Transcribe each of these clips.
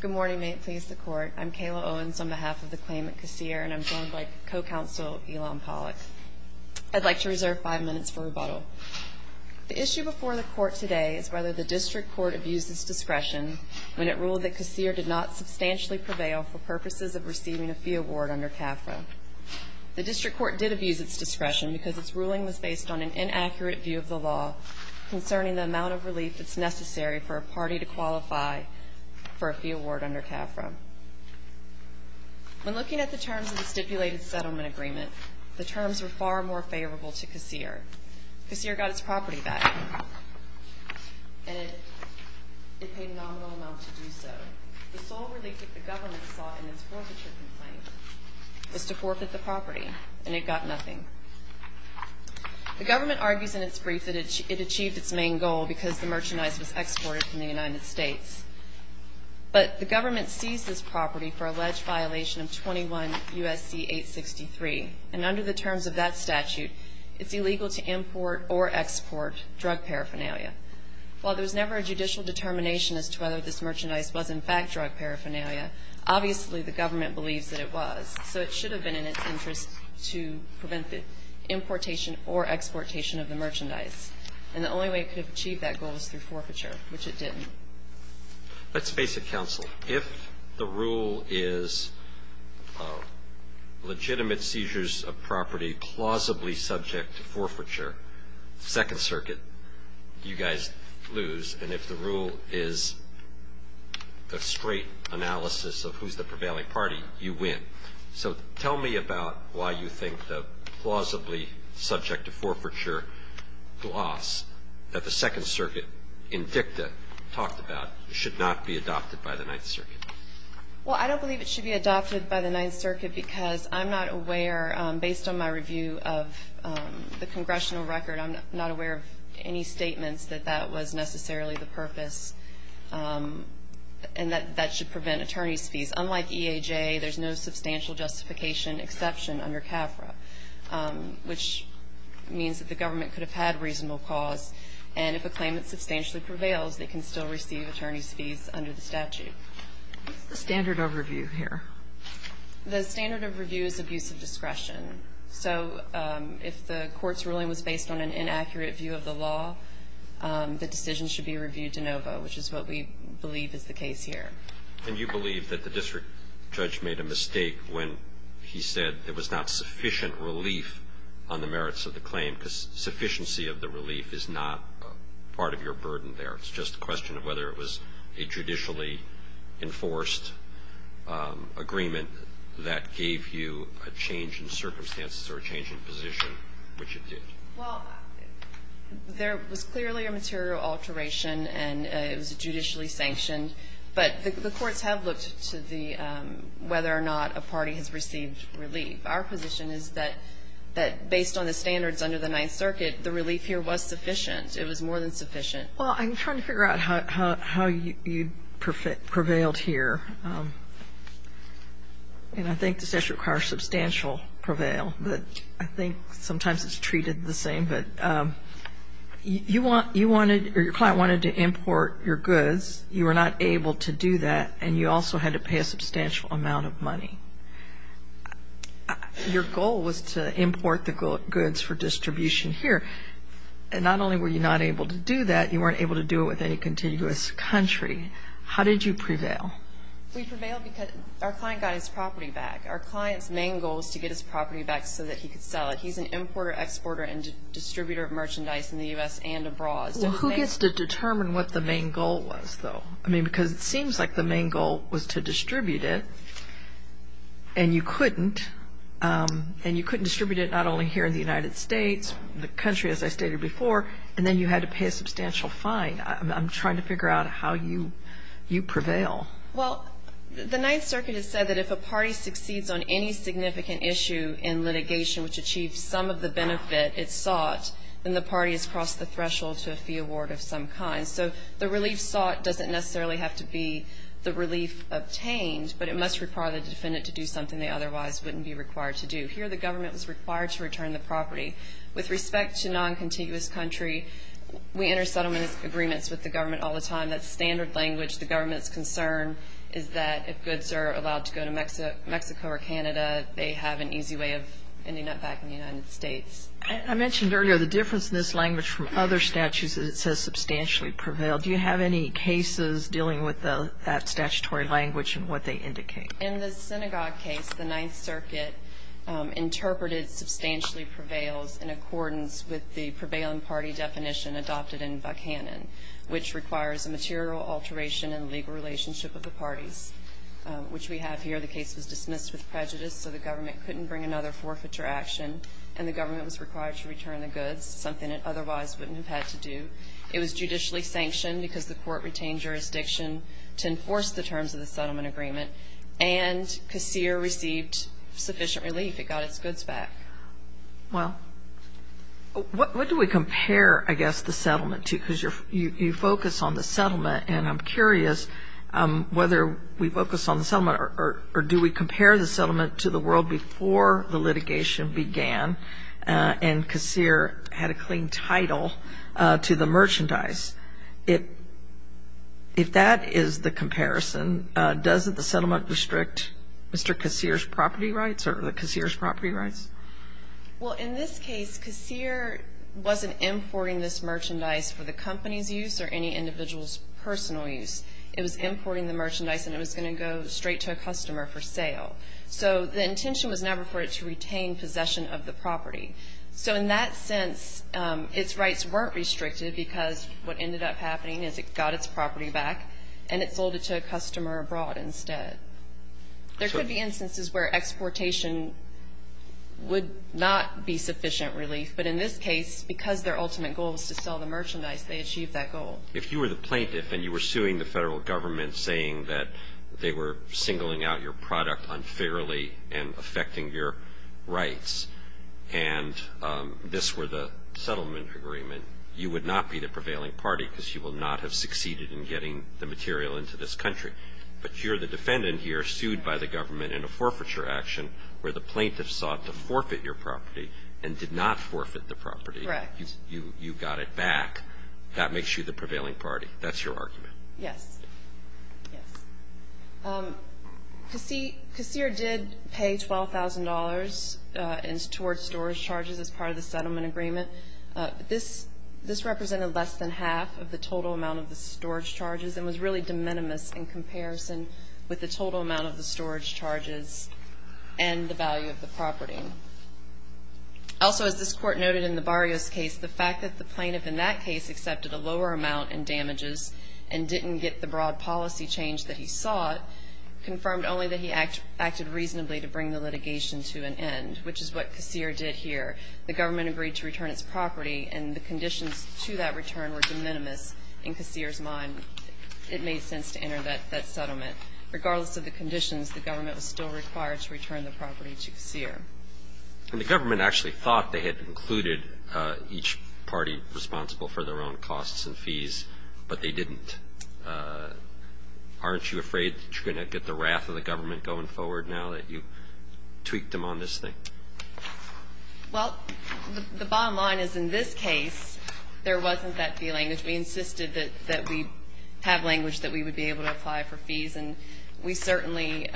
Good morning. May it please the Court. I'm Kayla Owens on behalf of the claimant, Kassir, and I'm joined by co-counsel Elon Pollack. I'd like to reserve five minutes for rebuttal. The issue before the Court today is whether the District Court abused its discretion when it ruled that Kassir did not substantially prevail for purposes of receiving a fee award under CAFRA. The District Court did abuse its discretion because its ruling was based on an inaccurate view of the law concerning the amount of relief that's necessary for a party to qualify for a fee award under CAFRA. When looking at the terms of the stipulated settlement agreement, the terms were far more favorable to Kassir. Kassir got its property back, and it paid a nominal amount to do so. The sole relief that the government sought in its forfeiture complaint was to forfeit the property, and it got nothing. The government argues in its brief that it achieved its main goal because the merchandise was exported from the United States. But the government seized this property for alleged violation of 21 U.S.C. 863, and under the terms of that statute, it's illegal to import or export drug paraphernalia. While there was never a judicial determination as to whether this merchandise was in fact drug paraphernalia, obviously the government believes that it was. So it should have been in its interest to prevent the importation or exportation of the merchandise. And the only way it could have achieved that goal was through forfeiture, which it didn't. Let's face it, counsel. If the rule is legitimate seizures of property plausibly subject to forfeiture, Second Circuit, you guys lose. And if the rule is a straight analysis of who's the prevailing party, you win. So tell me about why you think the plausibly subject to forfeiture loss that the Second Circuit, in dicta, talked about should not be adopted by the Ninth Circuit. Well, I don't believe it should be adopted by the Ninth Circuit because I'm not aware, based on my review of the congressional record, I'm not aware of any statements that that was necessarily the purpose. And that that should prevent attorney's fees. Unlike EAJ, there's no substantial justification exception under CAFRA, which means that the government could have had reasonable cause. And if a claimant substantially prevails, they can still receive attorney's fees under the statute. What's the standard overview here? The standard overview is abuse of discretion. So if the court's ruling was based on an inaccurate view of the law, the decision should be reviewed de novo, which is what we believe is the case here. And you believe that the district judge made a mistake when he said there was not sufficient relief on the merits of the claim because sufficiency of the relief is not part of your burden there. It's just a question of whether it was a judicially enforced agreement that gave you a change in circumstances or a change in position, which it did. Well, there was clearly a material alteration, and it was judicially sanctioned. But the courts have looked to the whether or not a party has received relief. Our position is that based on the standards under the Ninth Circuit, the relief here was sufficient. It was more than sufficient. Well, I'm trying to figure out how you prevailed here. And I think the statute requires substantial prevail. But I think sometimes it's treated the same. But you wanted or your client wanted to import your goods. You were not able to do that, and you also had to pay a substantial amount of money. Your goal was to import the goods for distribution here. And not only were you not able to do that, you weren't able to do it with any continuous country. How did you prevail? We prevailed because our client got his property back. Our client's main goal was to get his property back so that he could sell it. He's an importer, exporter, and distributor of merchandise in the U.S. and abroad. Well, who gets to determine what the main goal was, though? I mean, because it seems like the main goal was to distribute it, and you couldn't. And you couldn't distribute it not only here in the United States, the country, as I stated before, and then you had to pay a substantial fine. I'm trying to figure out how you prevail. Well, the Ninth Circuit has said that if a party succeeds on any significant issue in litigation which achieves some of the benefit it sought, then the party has crossed the threshold to a fee award of some kind. So the relief sought doesn't necessarily have to be the relief obtained, but it must require the defendant to do something they otherwise wouldn't be required to do. Here, the government was required to return the property. With respect to noncontiguous country, we enter settlement agreements with the government all the time. That's standard language. The government's concern is that if goods are allowed to go to Mexico or Canada, they have an easy way of ending up back in the United States. I mentioned earlier the difference in this language from other statutes that it says substantially prevailed. Do you have any cases dealing with that statutory language and what they indicate? In the synagogue case, the Ninth Circuit interpreted substantially prevails in accordance with the prevailing party definition adopted in Buckhannon, which requires a material alteration in legal relationship with the parties, which we have here. The case was dismissed with prejudice, so the government couldn't bring another forfeiture action, and the government was required to return the goods, something it otherwise wouldn't have had to do. It was judicially sanctioned because the court retained jurisdiction to enforce the terms of the settlement agreement, and Qasir received sufficient relief. It got its goods back. Well, what do we compare, I guess, the settlement to? Because you focus on the settlement, and I'm curious whether we focus on the settlement or do we compare the settlement to the world before the litigation began and Qasir had a clean title to the merchandise. If that is the comparison, doesn't the settlement restrict Mr. Qasir's property rights or the Qasir's property rights? Well, in this case, Qasir wasn't importing this merchandise for the company's use or any individual's personal use. It was importing the merchandise, and it was going to go straight to a customer for sale. So the intention was never for it to retain possession of the property. So in that sense, its rights weren't restricted because what ended up happening is it got its property back, and it sold it to a customer abroad instead. There could be instances where exportation would not be sufficient relief, but in this case, because their ultimate goal was to sell the merchandise, they achieved that goal. If you were the plaintiff and you were suing the federal government saying that they were singling out your product unfairly and affecting your rights and this were the settlement agreement, you would not be the prevailing party because you will not have succeeded in getting the material into this country. But you're the defendant here sued by the government in a forfeiture action where the plaintiff sought to forfeit your property and did not forfeit the property. Correct. You got it back. That makes you the prevailing party. That's your argument. Yes. Yes. Casir did pay $12,000 towards storage charges as part of the settlement agreement. This represented less than half of the total amount of the storage charges and was really de minimis in comparison with the total amount of the storage charges and the value of the property. Also, as this court noted in the Barrios case, the fact that the plaintiff in that case accepted a lower amount in damages and didn't get the broad policy change that he sought, confirmed only that he acted reasonably to bring the litigation to an end, which is what Casir did here. The government agreed to return its property, and the conditions to that return were de minimis in Casir's mind. It made sense to enter that settlement. Regardless of the conditions, the government was still required to return the property to Casir. And the government actually thought they had included each party responsible for their own costs and fees, but they didn't. Aren't you afraid that you're going to get the wrath of the government going forward now that you tweaked them on this thing? Well, the bottom line is, in this case, there wasn't that feeling. We insisted that we have language that we would be able to apply for fees, and we certainly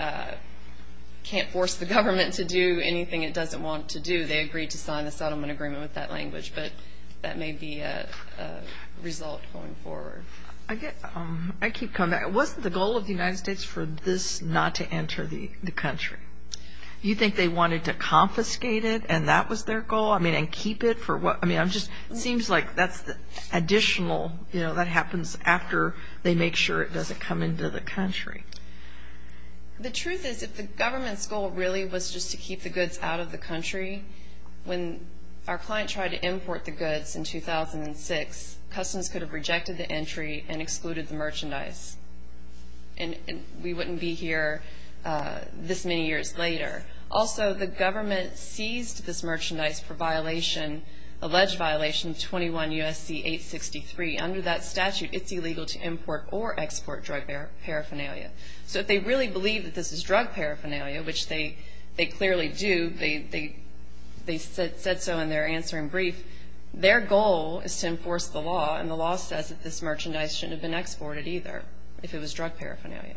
can't force the government to do anything it doesn't want to do. They agreed to sign the settlement agreement with that language, but that may be a result going forward. I keep coming back. Wasn't the goal of the United States for this not to enter the country? You think they wanted to confiscate it and that was their goal? I mean, and keep it for what? I mean, it just seems like that's additional, you know, that happens after they make sure it doesn't come into the country. The truth is, if the government's goal really was just to keep the goods out of the country, when our client tried to import the goods in 2006, Customs could have rejected the entry and excluded the merchandise, and we wouldn't be here this many years later. Also, the government seized this merchandise for violation, alleged violation, 21 U.S.C. 863. Under that statute, it's illegal to import or export drug paraphernalia. So if they really believe that this is drug paraphernalia, which they clearly do, they said so in their answering brief, their goal is to enforce the law, and the law says that this merchandise shouldn't have been exported either if it was drug paraphernalia.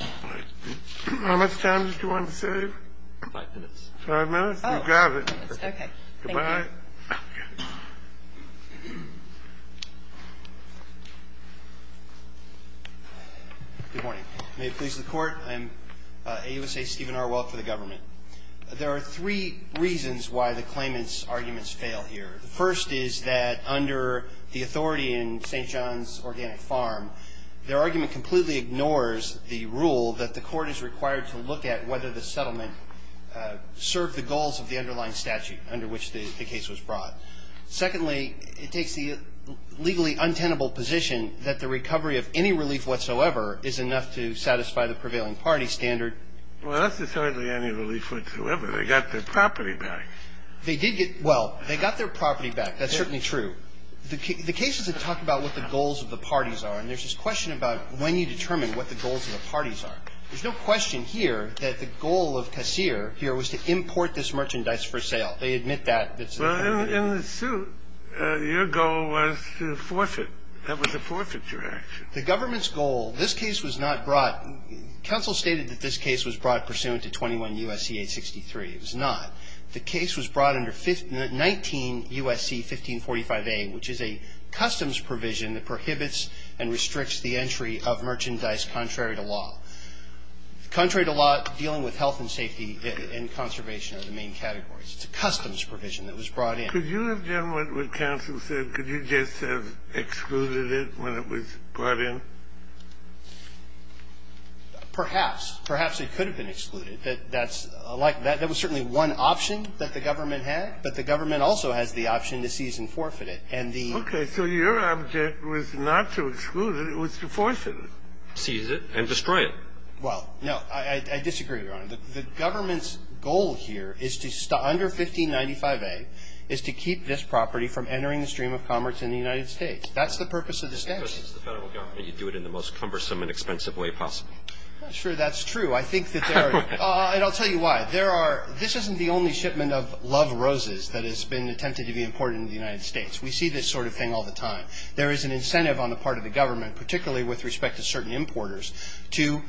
All right. How much time did you want to save? Five minutes. Five minutes? We'll grab it. Okay. Thank you. Goodbye. Good morning. May it please the Court, I am AUSA Stephen Arwell for the government. There are three reasons why the claimant's arguments fail here. The first is that under the authority in St. John's Organic Farm, their argument completely ignores the rule that the Court is required to look at whether the settlement served the goals of the underlying statute under which the case was brought. Secondly, it takes the legally untenable position that the recovery of any relief whatsoever is enough to satisfy the prevailing party standard. Well, that's just hardly any relief whatsoever. They got their property back. Well, they got their property back. That's certainly true. The cases have talked about what the goals of the parties are, and there's this question about when you determine what the goals of the parties are. There's no question here that the goal of Casir here was to import this merchandise for sale. They admit that. Well, in the suit, your goal was to forfeit. That was a forfeiture action. The government's goal, this case was not brought. Counsel stated that this case was brought pursuant to 21 U.S.C. 863. It was not. The case was brought under 19 U.S.C. 1545a, which is a customs provision that prohibits and restricts the entry of merchandise contrary to law. Contrary to law, dealing with health and safety and conservation are the main categories. It's a customs provision that was brought in. Could you have done what counsel said? Could you just have excluded it when it was brought in? Perhaps. Perhaps it could have been excluded. That's like that. That was certainly one option that the government had, but the government also has the option to seize and forfeit it. And the ---- Okay. So your object was not to exclude it. It was to forfeit it. Seize it and destroy it. Well, no. I disagree, Your Honor. The government's goal here is to stop under 1595a is to keep this property from entering the stream of commerce in the United States. That's the purpose of the statute. Because it's the Federal government, you do it in the most cumbersome and expensive way possible. Sure, that's true. I think that there are ---- And I'll tell you why. There are ---- This isn't the only shipment of love roses that has been attempted to be imported into the United States. We see this sort of thing all the time. There is an incentive on the part of the government, particularly with respect to certain importers, to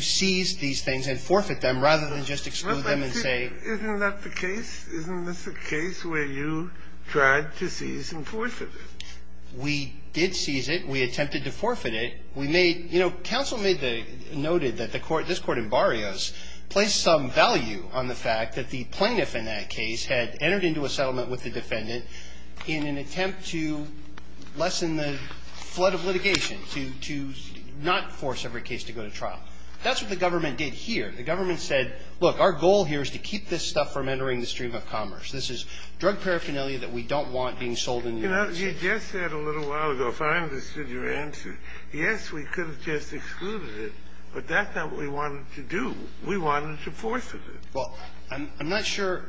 seize these things and forfeit them rather than just exclude them and say ---- Isn't that the case? Isn't this the case where you tried to seize and forfeit it? We did seize it. We attempted to forfeit it. We made ---- You know, counsel noted that this Court in Barrios placed some value on the fact that the plaintiff in that case had entered into a settlement with the defendant in an attempt to lessen the flood of litigation, to not force every case to go to trial. That's what the government did here. The government said, look, our goal here is to keep this stuff from entering the stream of commerce. This is drug paraphernalia that we don't want being sold in the United States. We just said a little while ago, if I understood your answer, yes, we could have just excluded it, but that's not what we wanted to do. We wanted to forfeit it. Well, I'm not sure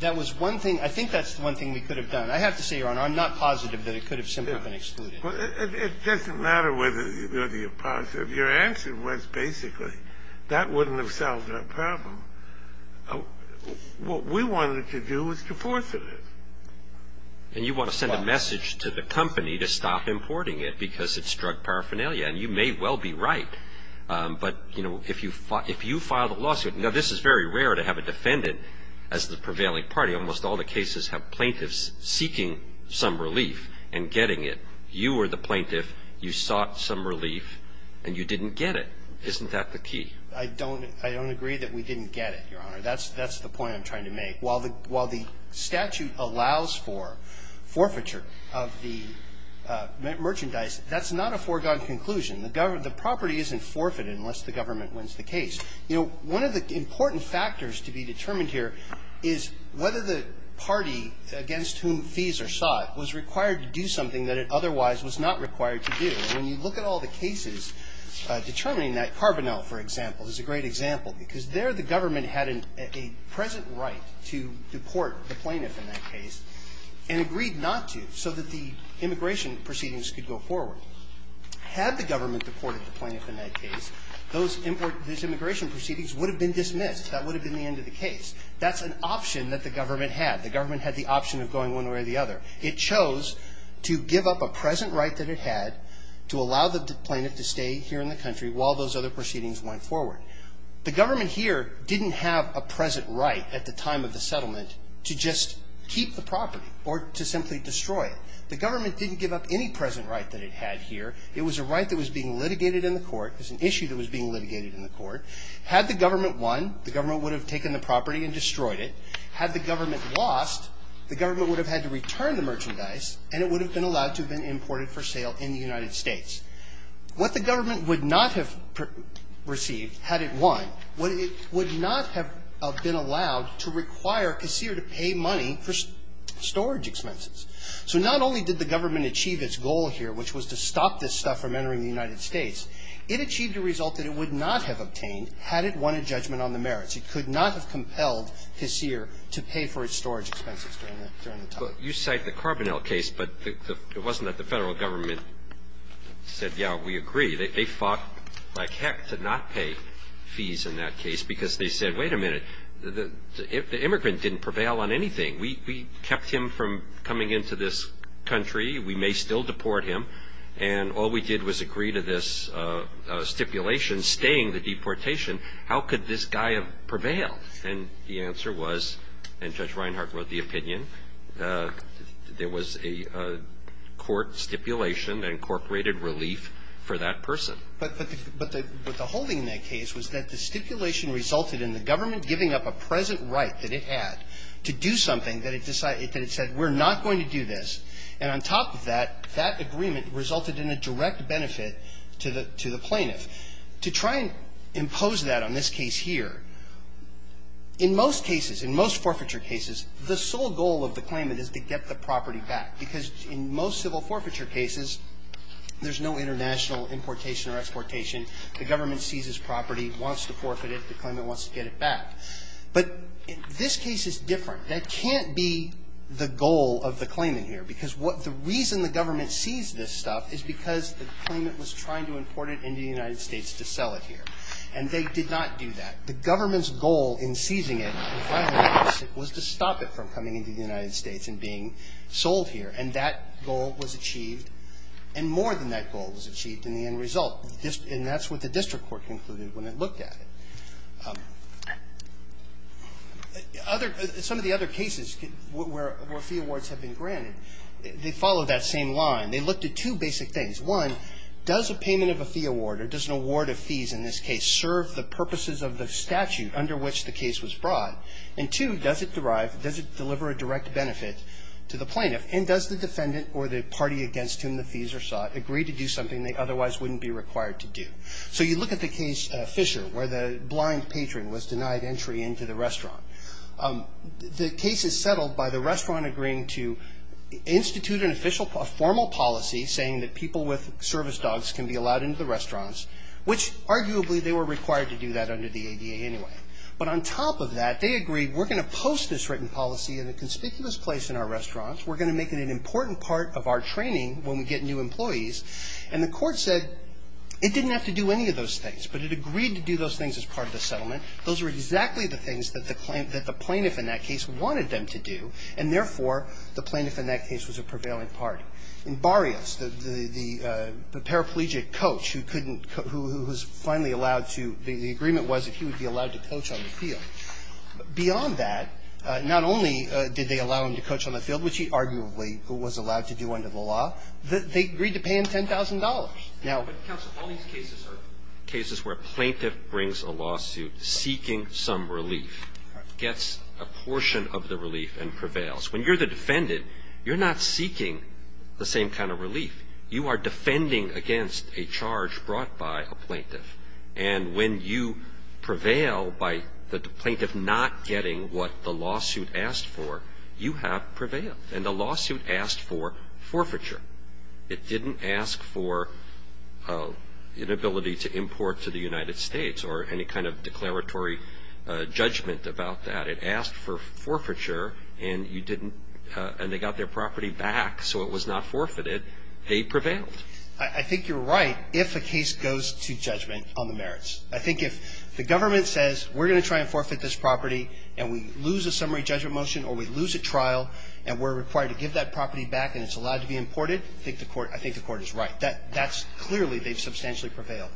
that was one thing. I think that's the one thing we could have done. I have to say, Your Honor, I'm not positive that it could have simply been excluded. It doesn't matter whether you're positive. Your answer was basically that wouldn't have solved our problem. What we wanted to do was to forfeit it. And you want to send a message to the company to stop importing it because it's drug paraphernalia, and you may well be right. But, you know, if you file the lawsuit, now, this is very rare to have a defendant as the prevailing party. Almost all the cases have plaintiffs seeking some relief and getting it. You were the plaintiff. You sought some relief, and you didn't get it. Isn't that the key? I don't agree that we didn't get it, Your Honor. That's the point I'm trying to make. While the statute allows for forfeiture of the merchandise, that's not a foregone conclusion. The property isn't forfeited unless the government wins the case. You know, one of the important factors to be determined here is whether the party against whom fees are sought was required to do something that it otherwise was not required to do. When you look at all the cases determining that, Carbonell, for example, is a great example, because there the government had a present right to deport the plaintiff in that case and agreed not to so that the immigration proceedings could go forward. Had the government deported the plaintiff in that case, those immigration proceedings would have been dismissed. That would have been the end of the case. That's an option that the government had. The government had the option of going one way or the other. It chose to give up a present right that it had to allow the plaintiff to stay here in the country while those other proceedings went forward. The government here didn't have a present right at the time of the settlement to just keep the property or to simply destroy it. The government didn't give up any present right that it had here. It was a right that was being litigated in the court. It was an issue that was being litigated in the court. Had the government won, the government would have taken the property and destroyed it. Had the government lost, the government would have had to return the merchandise and it would have been allowed to have been imported for sale in the United States. What the government would not have received had it won, it would not have been allowed to require Kaseer to pay money for storage expenses. So not only did the government achieve its goal here, which was to stop this stuff from entering the United States, it achieved a result that it would not have obtained had it won a judgment on the merits. It could not have compelled Kaseer to pay for its storage expenses during the time. Well, you cite the Carbonell case, but it wasn't that the Federal Government said, yeah, we agree. They fought like heck to not pay fees in that case because they said, wait a minute, the immigrant didn't prevail on anything. We kept him from coming into this country. We may still deport him. And all we did was agree to this stipulation staying the deportation. How could this guy have prevailed? And the answer was, and Judge Reinhart wrote the opinion, there was a court stipulation that incorporated relief for that person. But the whole thing in that case was that the stipulation resulted in the government giving up a present right that it had to do something that it decided that it said we're not going to do this. And on top of that, that agreement resulted in a direct benefit to the plaintiff. To try and impose that on this case here, in most cases, in most forfeiture cases, the sole goal of the claimant is to get the property back because in most civil forfeiture cases, there's no international importation or exportation. The government seizes property, wants to forfeit it. The claimant wants to get it back. But this case is different. That can't be the goal of the claimant here because the reason the government seized this stuff is because the claimant was trying to import it into the United States to sell it here. And they did not do that. The government's goal in seizing it and filing it was to stop it from coming into the United States and being sold here. And that goal was achieved. And more than that goal was achieved in the end result. And that's what the district court concluded when it looked at it. Some of the other cases where fee awards have been granted, they follow that same line. They looked at two basic things. One, does a payment of a fee award or does an award of fees in this case serve the purposes of the statute under which the case was brought? And two, does it derive, does it deliver a direct benefit to the plaintiff? And does the defendant or the party against whom the fees are sought agree to do something they otherwise wouldn't be required to do? So you look at the case Fisher where the blind patron was denied entry into the restaurant. The case is settled by the restaurant agreeing to institute a formal policy saying that people with service dogs can be allowed into the restaurants, which arguably they were required to do that under the ADA anyway. But on top of that, they agreed we're going to post this written policy in a conspicuous place in our restaurant. We're going to make it an important part of our training when we get new employees. And the court said it didn't have to do any of those things. But it agreed to do those things as part of the settlement. Those were exactly the things that the plaintiff in that case wanted them to do, and therefore the plaintiff in that case was a prevailing party. In Barrios, the paraplegic coach who couldn't, who was finally allowed to, the agreement was that he would be allowed to coach on the field. Beyond that, not only did they allow him to coach on the field, which he arguably was allowed to do under the law, they agreed to pay him $10,000. But, Counsel, all these cases are cases where a plaintiff brings a lawsuit seeking some relief, gets a portion of the relief and prevails. When you're the defendant, you're not seeking the same kind of relief. You are defending against a charge brought by a plaintiff. And when you prevail by the plaintiff not getting what the lawsuit asked for, you have prevailed. And the lawsuit asked for forfeiture. It didn't ask for an ability to import to the United States or any kind of declaratory judgment about that. It asked for forfeiture and you didn't, and they got their property back so it was not forfeited. They prevailed. I think you're right if a case goes to judgment on the merits. I think if the government says we're going to try and forfeit this property and we lose a summary judgment motion or we lose a trial and we're required to give that property back and it's allowed to be imported, I think the court is right. That's clearly, they've substantially prevailed.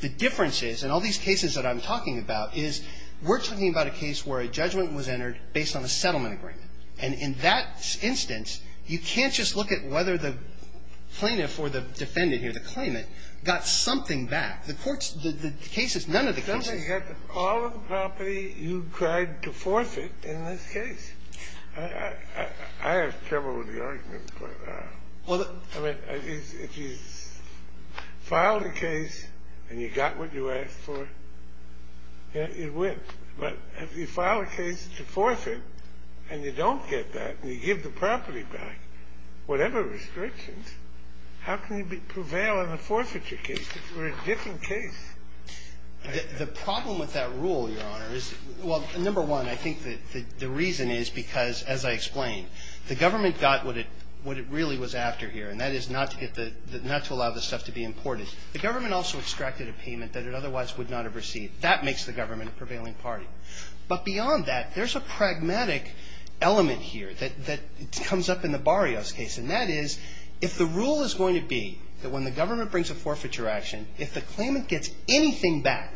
The difference is, in all these cases that I'm talking about, is we're talking about a case where a judgment was entered based on a settlement agreement. And in that instance, you can't just look at whether the plaintiff or the defendant here, the claimant, got something back. The court's, the cases, none of the cases. I mean, if you get all of the property, you tried to forfeit in this case. I have trouble with the argument for that. I mean, if you filed a case and you got what you asked for, it wins. But if you file a case to forfeit and you don't get that and you give the property back, whatever restrictions, how can you prevail in a forfeiture case if you're a different case? The problem with that rule, Your Honor, is, well, number one, I think the reason is because, as I explained, the government got what it really was after here, and that is not to get the, not to allow the stuff to be imported. The government also extracted a payment that it otherwise would not have received. That makes the government a prevailing party. But beyond that, there's a pragmatic element here that comes up in the Barrios case. And that is, if the rule is going to be that when the government brings a forfeiture action, if the claimant gets anything back,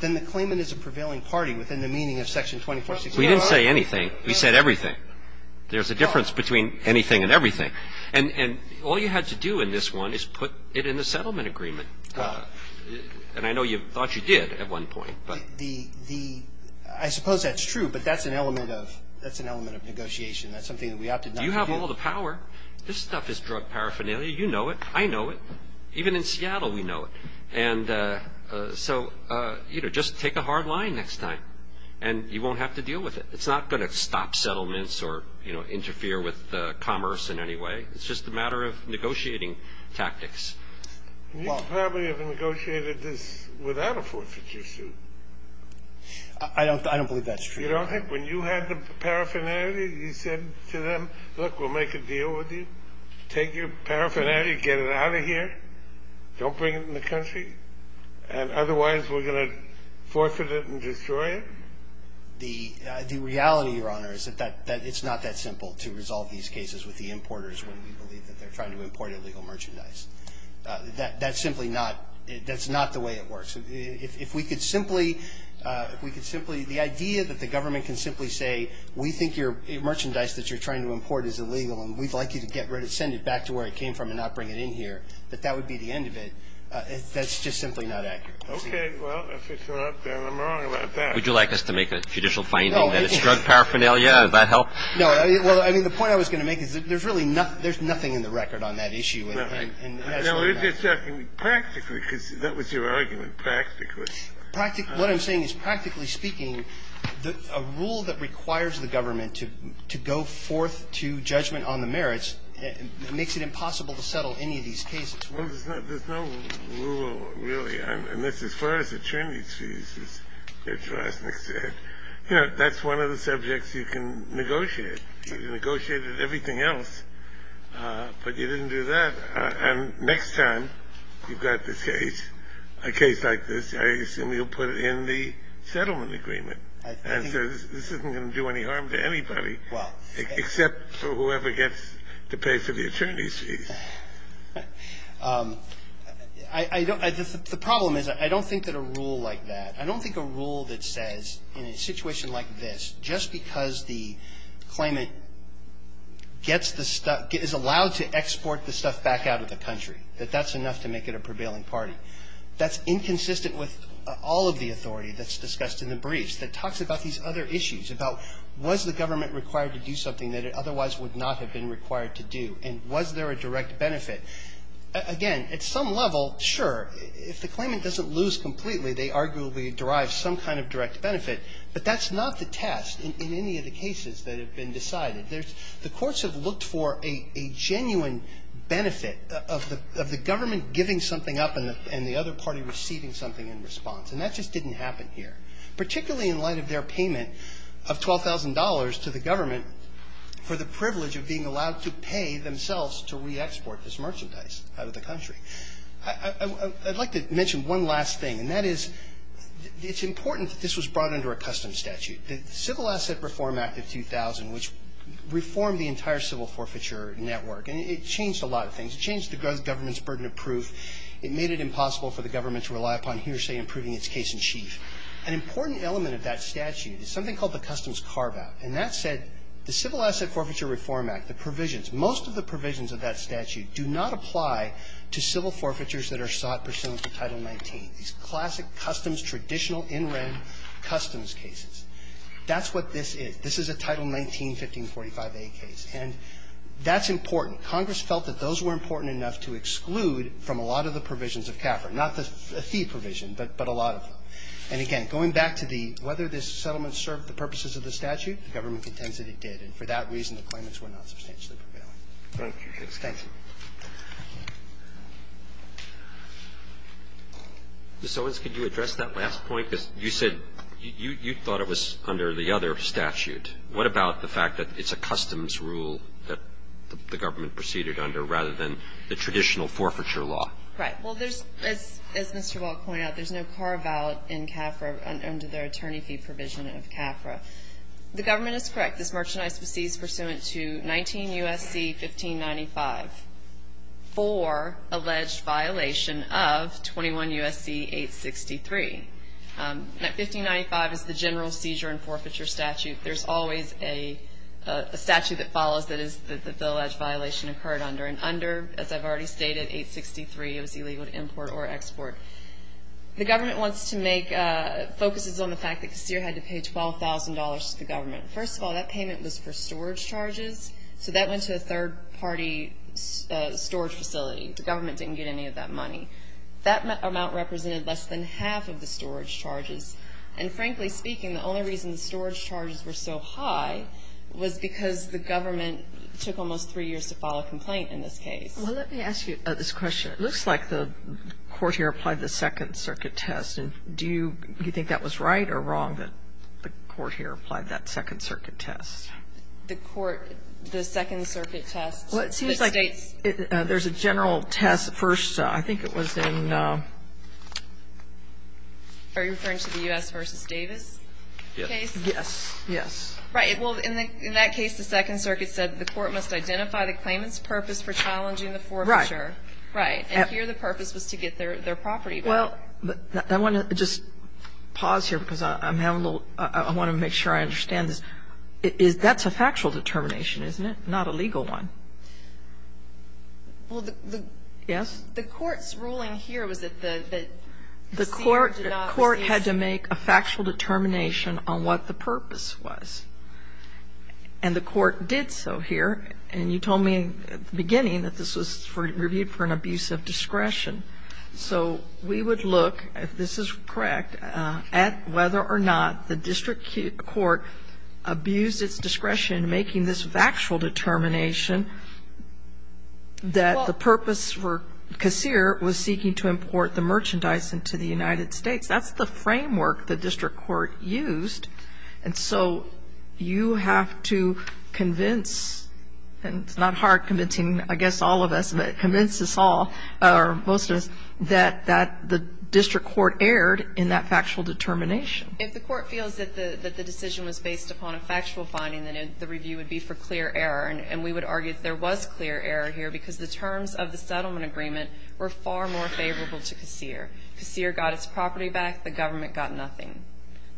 then the claimant is a prevailing party within the meaning of Section 2466. Roberts, we didn't say anything. We said everything. There's a difference between anything and everything. And all you had to do in this one is put it in the settlement agreement. And I know you thought you did at one point. The – I suppose that's true, but that's an element of negotiation. That's something that we opted not to do. You have all the power. This stuff is drug paraphernalia. You know it. I know it. Even in Seattle, we know it. And so, you know, just take a hard line next time, and you won't have to deal with it. It's not going to stop settlements or, you know, interfere with commerce in any way. It's just a matter of negotiating tactics. You probably have negotiated this without a forfeiture suit. I don't believe that's true. You don't think when you had the paraphernalia, you said to them, look, we'll make a deal with you. Take your paraphernalia, get it out of here. Don't bring it in the country. And otherwise, we're going to forfeit it and destroy it? The reality, Your Honor, is that it's not that simple to resolve these cases with the importers when we believe that they're trying to import illegal merchandise. That's simply not – that's not the way it works. If we could simply – if we could simply – the idea that the government can simply say, we think your merchandise that you're trying to import is illegal, and we'd like you to send it back to where it came from and not bring it in here, that that would be the end of it, that's just simply not accurate. Okay. Well, if it's not, then I'm wrong about that. Would you like us to make a judicial finding that it's drug paraphernalia? Would that help? No. Well, I mean, the point I was going to make is that there's really nothing – there's nothing in the record on that issue. Right. No, we're just talking practically, because that was your argument, practically. Practically – what I'm saying is, practically speaking, a rule that requires the government to go forth to judgment on the merits makes it impossible to settle any of these cases. Well, there's no rule, really. And that's as far as attorney's fees, as Judge Rosnick said. You know, that's one of the subjects you can negotiate. You can negotiate everything else, but you didn't do that. And next time you've got this case, a case like this, I assume you'll put it in the settlement agreement. And so this isn't going to do any harm to anybody, except for whoever gets to pay for the attorney's fees. I don't – the problem is I don't think that a rule like that – I don't think a rule that says in a situation like this, just because the claimant gets the stuff – is allowed to export the stuff back out of the country, that that's enough to make it a prevailing party. That's inconsistent with all of the authority that's discussed in the briefs that talks about these other issues, about was the government required to do something that it otherwise would not have been required to do. And was there a direct benefit? Again, at some level, sure. If the claimant doesn't lose completely, they arguably derive some kind of direct benefit. But that's not the test in any of the cases that have been decided. The courts have looked for a genuine benefit of the government giving something up and the other party receiving something in response. And that just didn't happen here, particularly in light of their payment of $12,000 to the government for the privilege of being allowed to pay themselves to re-export this merchandise out of the country. I'd like to mention one last thing, and that is it's important that this was brought under a custom statute. The Civil Asset Reform Act of 2000, which reformed the entire civil forfeiture network, and it changed a lot of things. It changed the government's burden of proof. It made it impossible for the government to rely upon hearsay in proving its case in chief. An important element of that statute is something called the Customs Carve-Out. And that said, the Civil Asset Forfeiture Reform Act, the provisions, most of the provisions of that statute do not apply to civil forfeitures that are sought pursuant to Title 19. These classic customs, traditional in-red customs cases. That's what this is. This is a Title 19, 1545a case. And that's important. Congress felt that those were important enough to exclude from a lot of the provisions of CAFR, not the fee provision, but a lot of them. And again, going back to the whether this settlement served the purposes of the statute, the government contends that it did. And for that reason, the claimants were not substantially prevailing. Thank you. Ms. Owens, could you address that last point? You said you thought it was under the other statute. What about the fact that it's a customs rule that the government proceeded under rather than the traditional forfeiture law? Right. Well, there's, as Mr. Wall pointed out, there's no carve-out in CAFR under the attorney fee provision of CAFR. The government is correct. This merchandise was seized pursuant to 19 U.S.C. 1595 for alleged violation of 21 U.S.C. 863. 1595 is the general seizure and forfeiture statute. There's always a statute that follows that the alleged violation occurred under. And under, as I've already stated, 863, it was illegal to import or export. The government wants to make, focuses on the fact that Casir had to pay $12,000 to the government. First of all, that payment was for storage charges, so that went to a third-party storage facility. The government didn't get any of that money. That amount represented less than half of the storage charges. And frankly speaking, the only reason the storage charges were so high was because the government took almost three years to file a complaint in this case. Well, let me ask you this question. It looks like the court here applied the Second Circuit test. Do you think that was right or wrong that the court here applied that Second Circuit test? The court, the Second Circuit test. Well, it seems like there's a general test. First, I think it was in. Are you referring to the U.S. v. Davis case? Yes, yes. Right. Well, in that case, the Second Circuit said the court must identify the claimant's purpose for challenging the forfeiture. Right. Right. And here the purpose was to get their property back. Well, I want to just pause here because I'm having a little ‑‑ I want to make sure I understand this. That's a factual determination, isn't it, not a legal one? Well, the ‑‑ Yes? The court's ruling here was that the ‑‑ The court had to make a factual determination on what the purpose was. And the court did so here. And you told me at the beginning that this was reviewed for an abuse of discretion. So we would look, if this is correct, at whether or not the district court abused its discretion in making this factual determination that the purpose for Kassir was seeking to import the merchandise into the United States. That's the framework the district court used. And so you have to convince, and it's not hard convincing, I guess, all of us, convince us all, or most of us, that the district court erred in that factual determination. If the court feels that the decision was based upon a factual finding, then the review would be for clear error. And we would argue that there was clear error here because the terms of the settlement agreement were far more favorable to Kassir. Kassir got its property back. The government got nothing.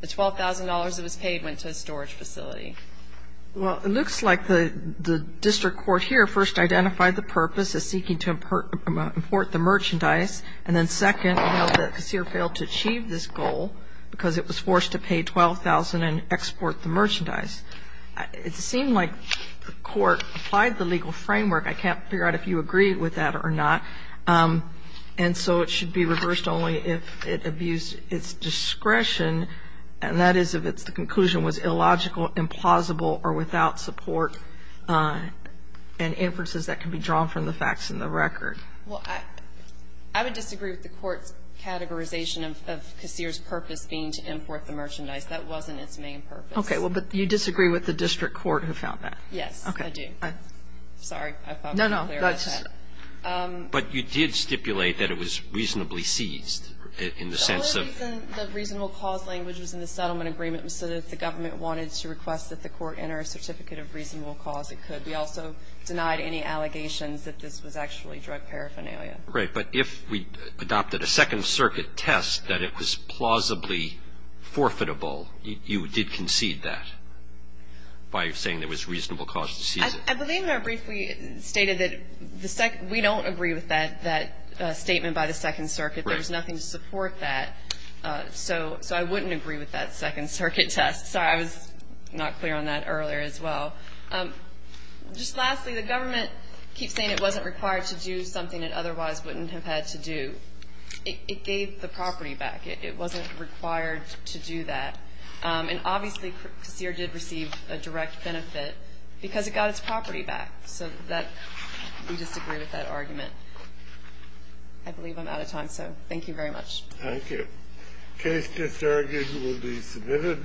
The $12,000 that was paid went to a storage facility. Kagan. Well, it looks like the district court here first identified the purpose as seeking to import the merchandise, and then second, we know that Kassir failed to achieve this goal because it was forced to pay $12,000 and export the merchandise. It seemed like the court applied the legal framework. I can't figure out if you agree with that or not. And so it should be reversed only if it abused its discretion, and that is if the conclusion was illogical, implausible, or without support and inferences that can be drawn from the facts in the record. Well, I would disagree with the court's categorization of Kassir's purpose being to import the merchandise. That wasn't its main purpose. Okay. Well, but you disagree with the district court who found that. Yes, I do. Sorry. I thought that was clear. No, no. But you did stipulate that it was reasonably seized in the sense of the reasonable cause language was in the settlement agreement so that the government wanted to request that the court enter a certificate of reasonable cause. It could be also denied any allegations that this was actually drug paraphernalia. Right. But if we adopted a Second Circuit test that it was plausibly forfeitable, you did concede that by saying there was reasonable cause to seize it. I believe I briefly stated that we don't agree with that statement by the Second Circuit. Right. There was nothing to support that. So I wouldn't agree with that Second Circuit test. Sorry. I was not clear on that earlier as well. Just lastly, the government keeps saying it wasn't required to do something it otherwise wouldn't have had to do. It gave the property back. It wasn't required to do that. And, obviously, Kassir did receive a direct benefit because it got its property back. So we disagree with that argument. I believe I'm out of time. So thank you very much. Thank you. The case disargued will be submitted.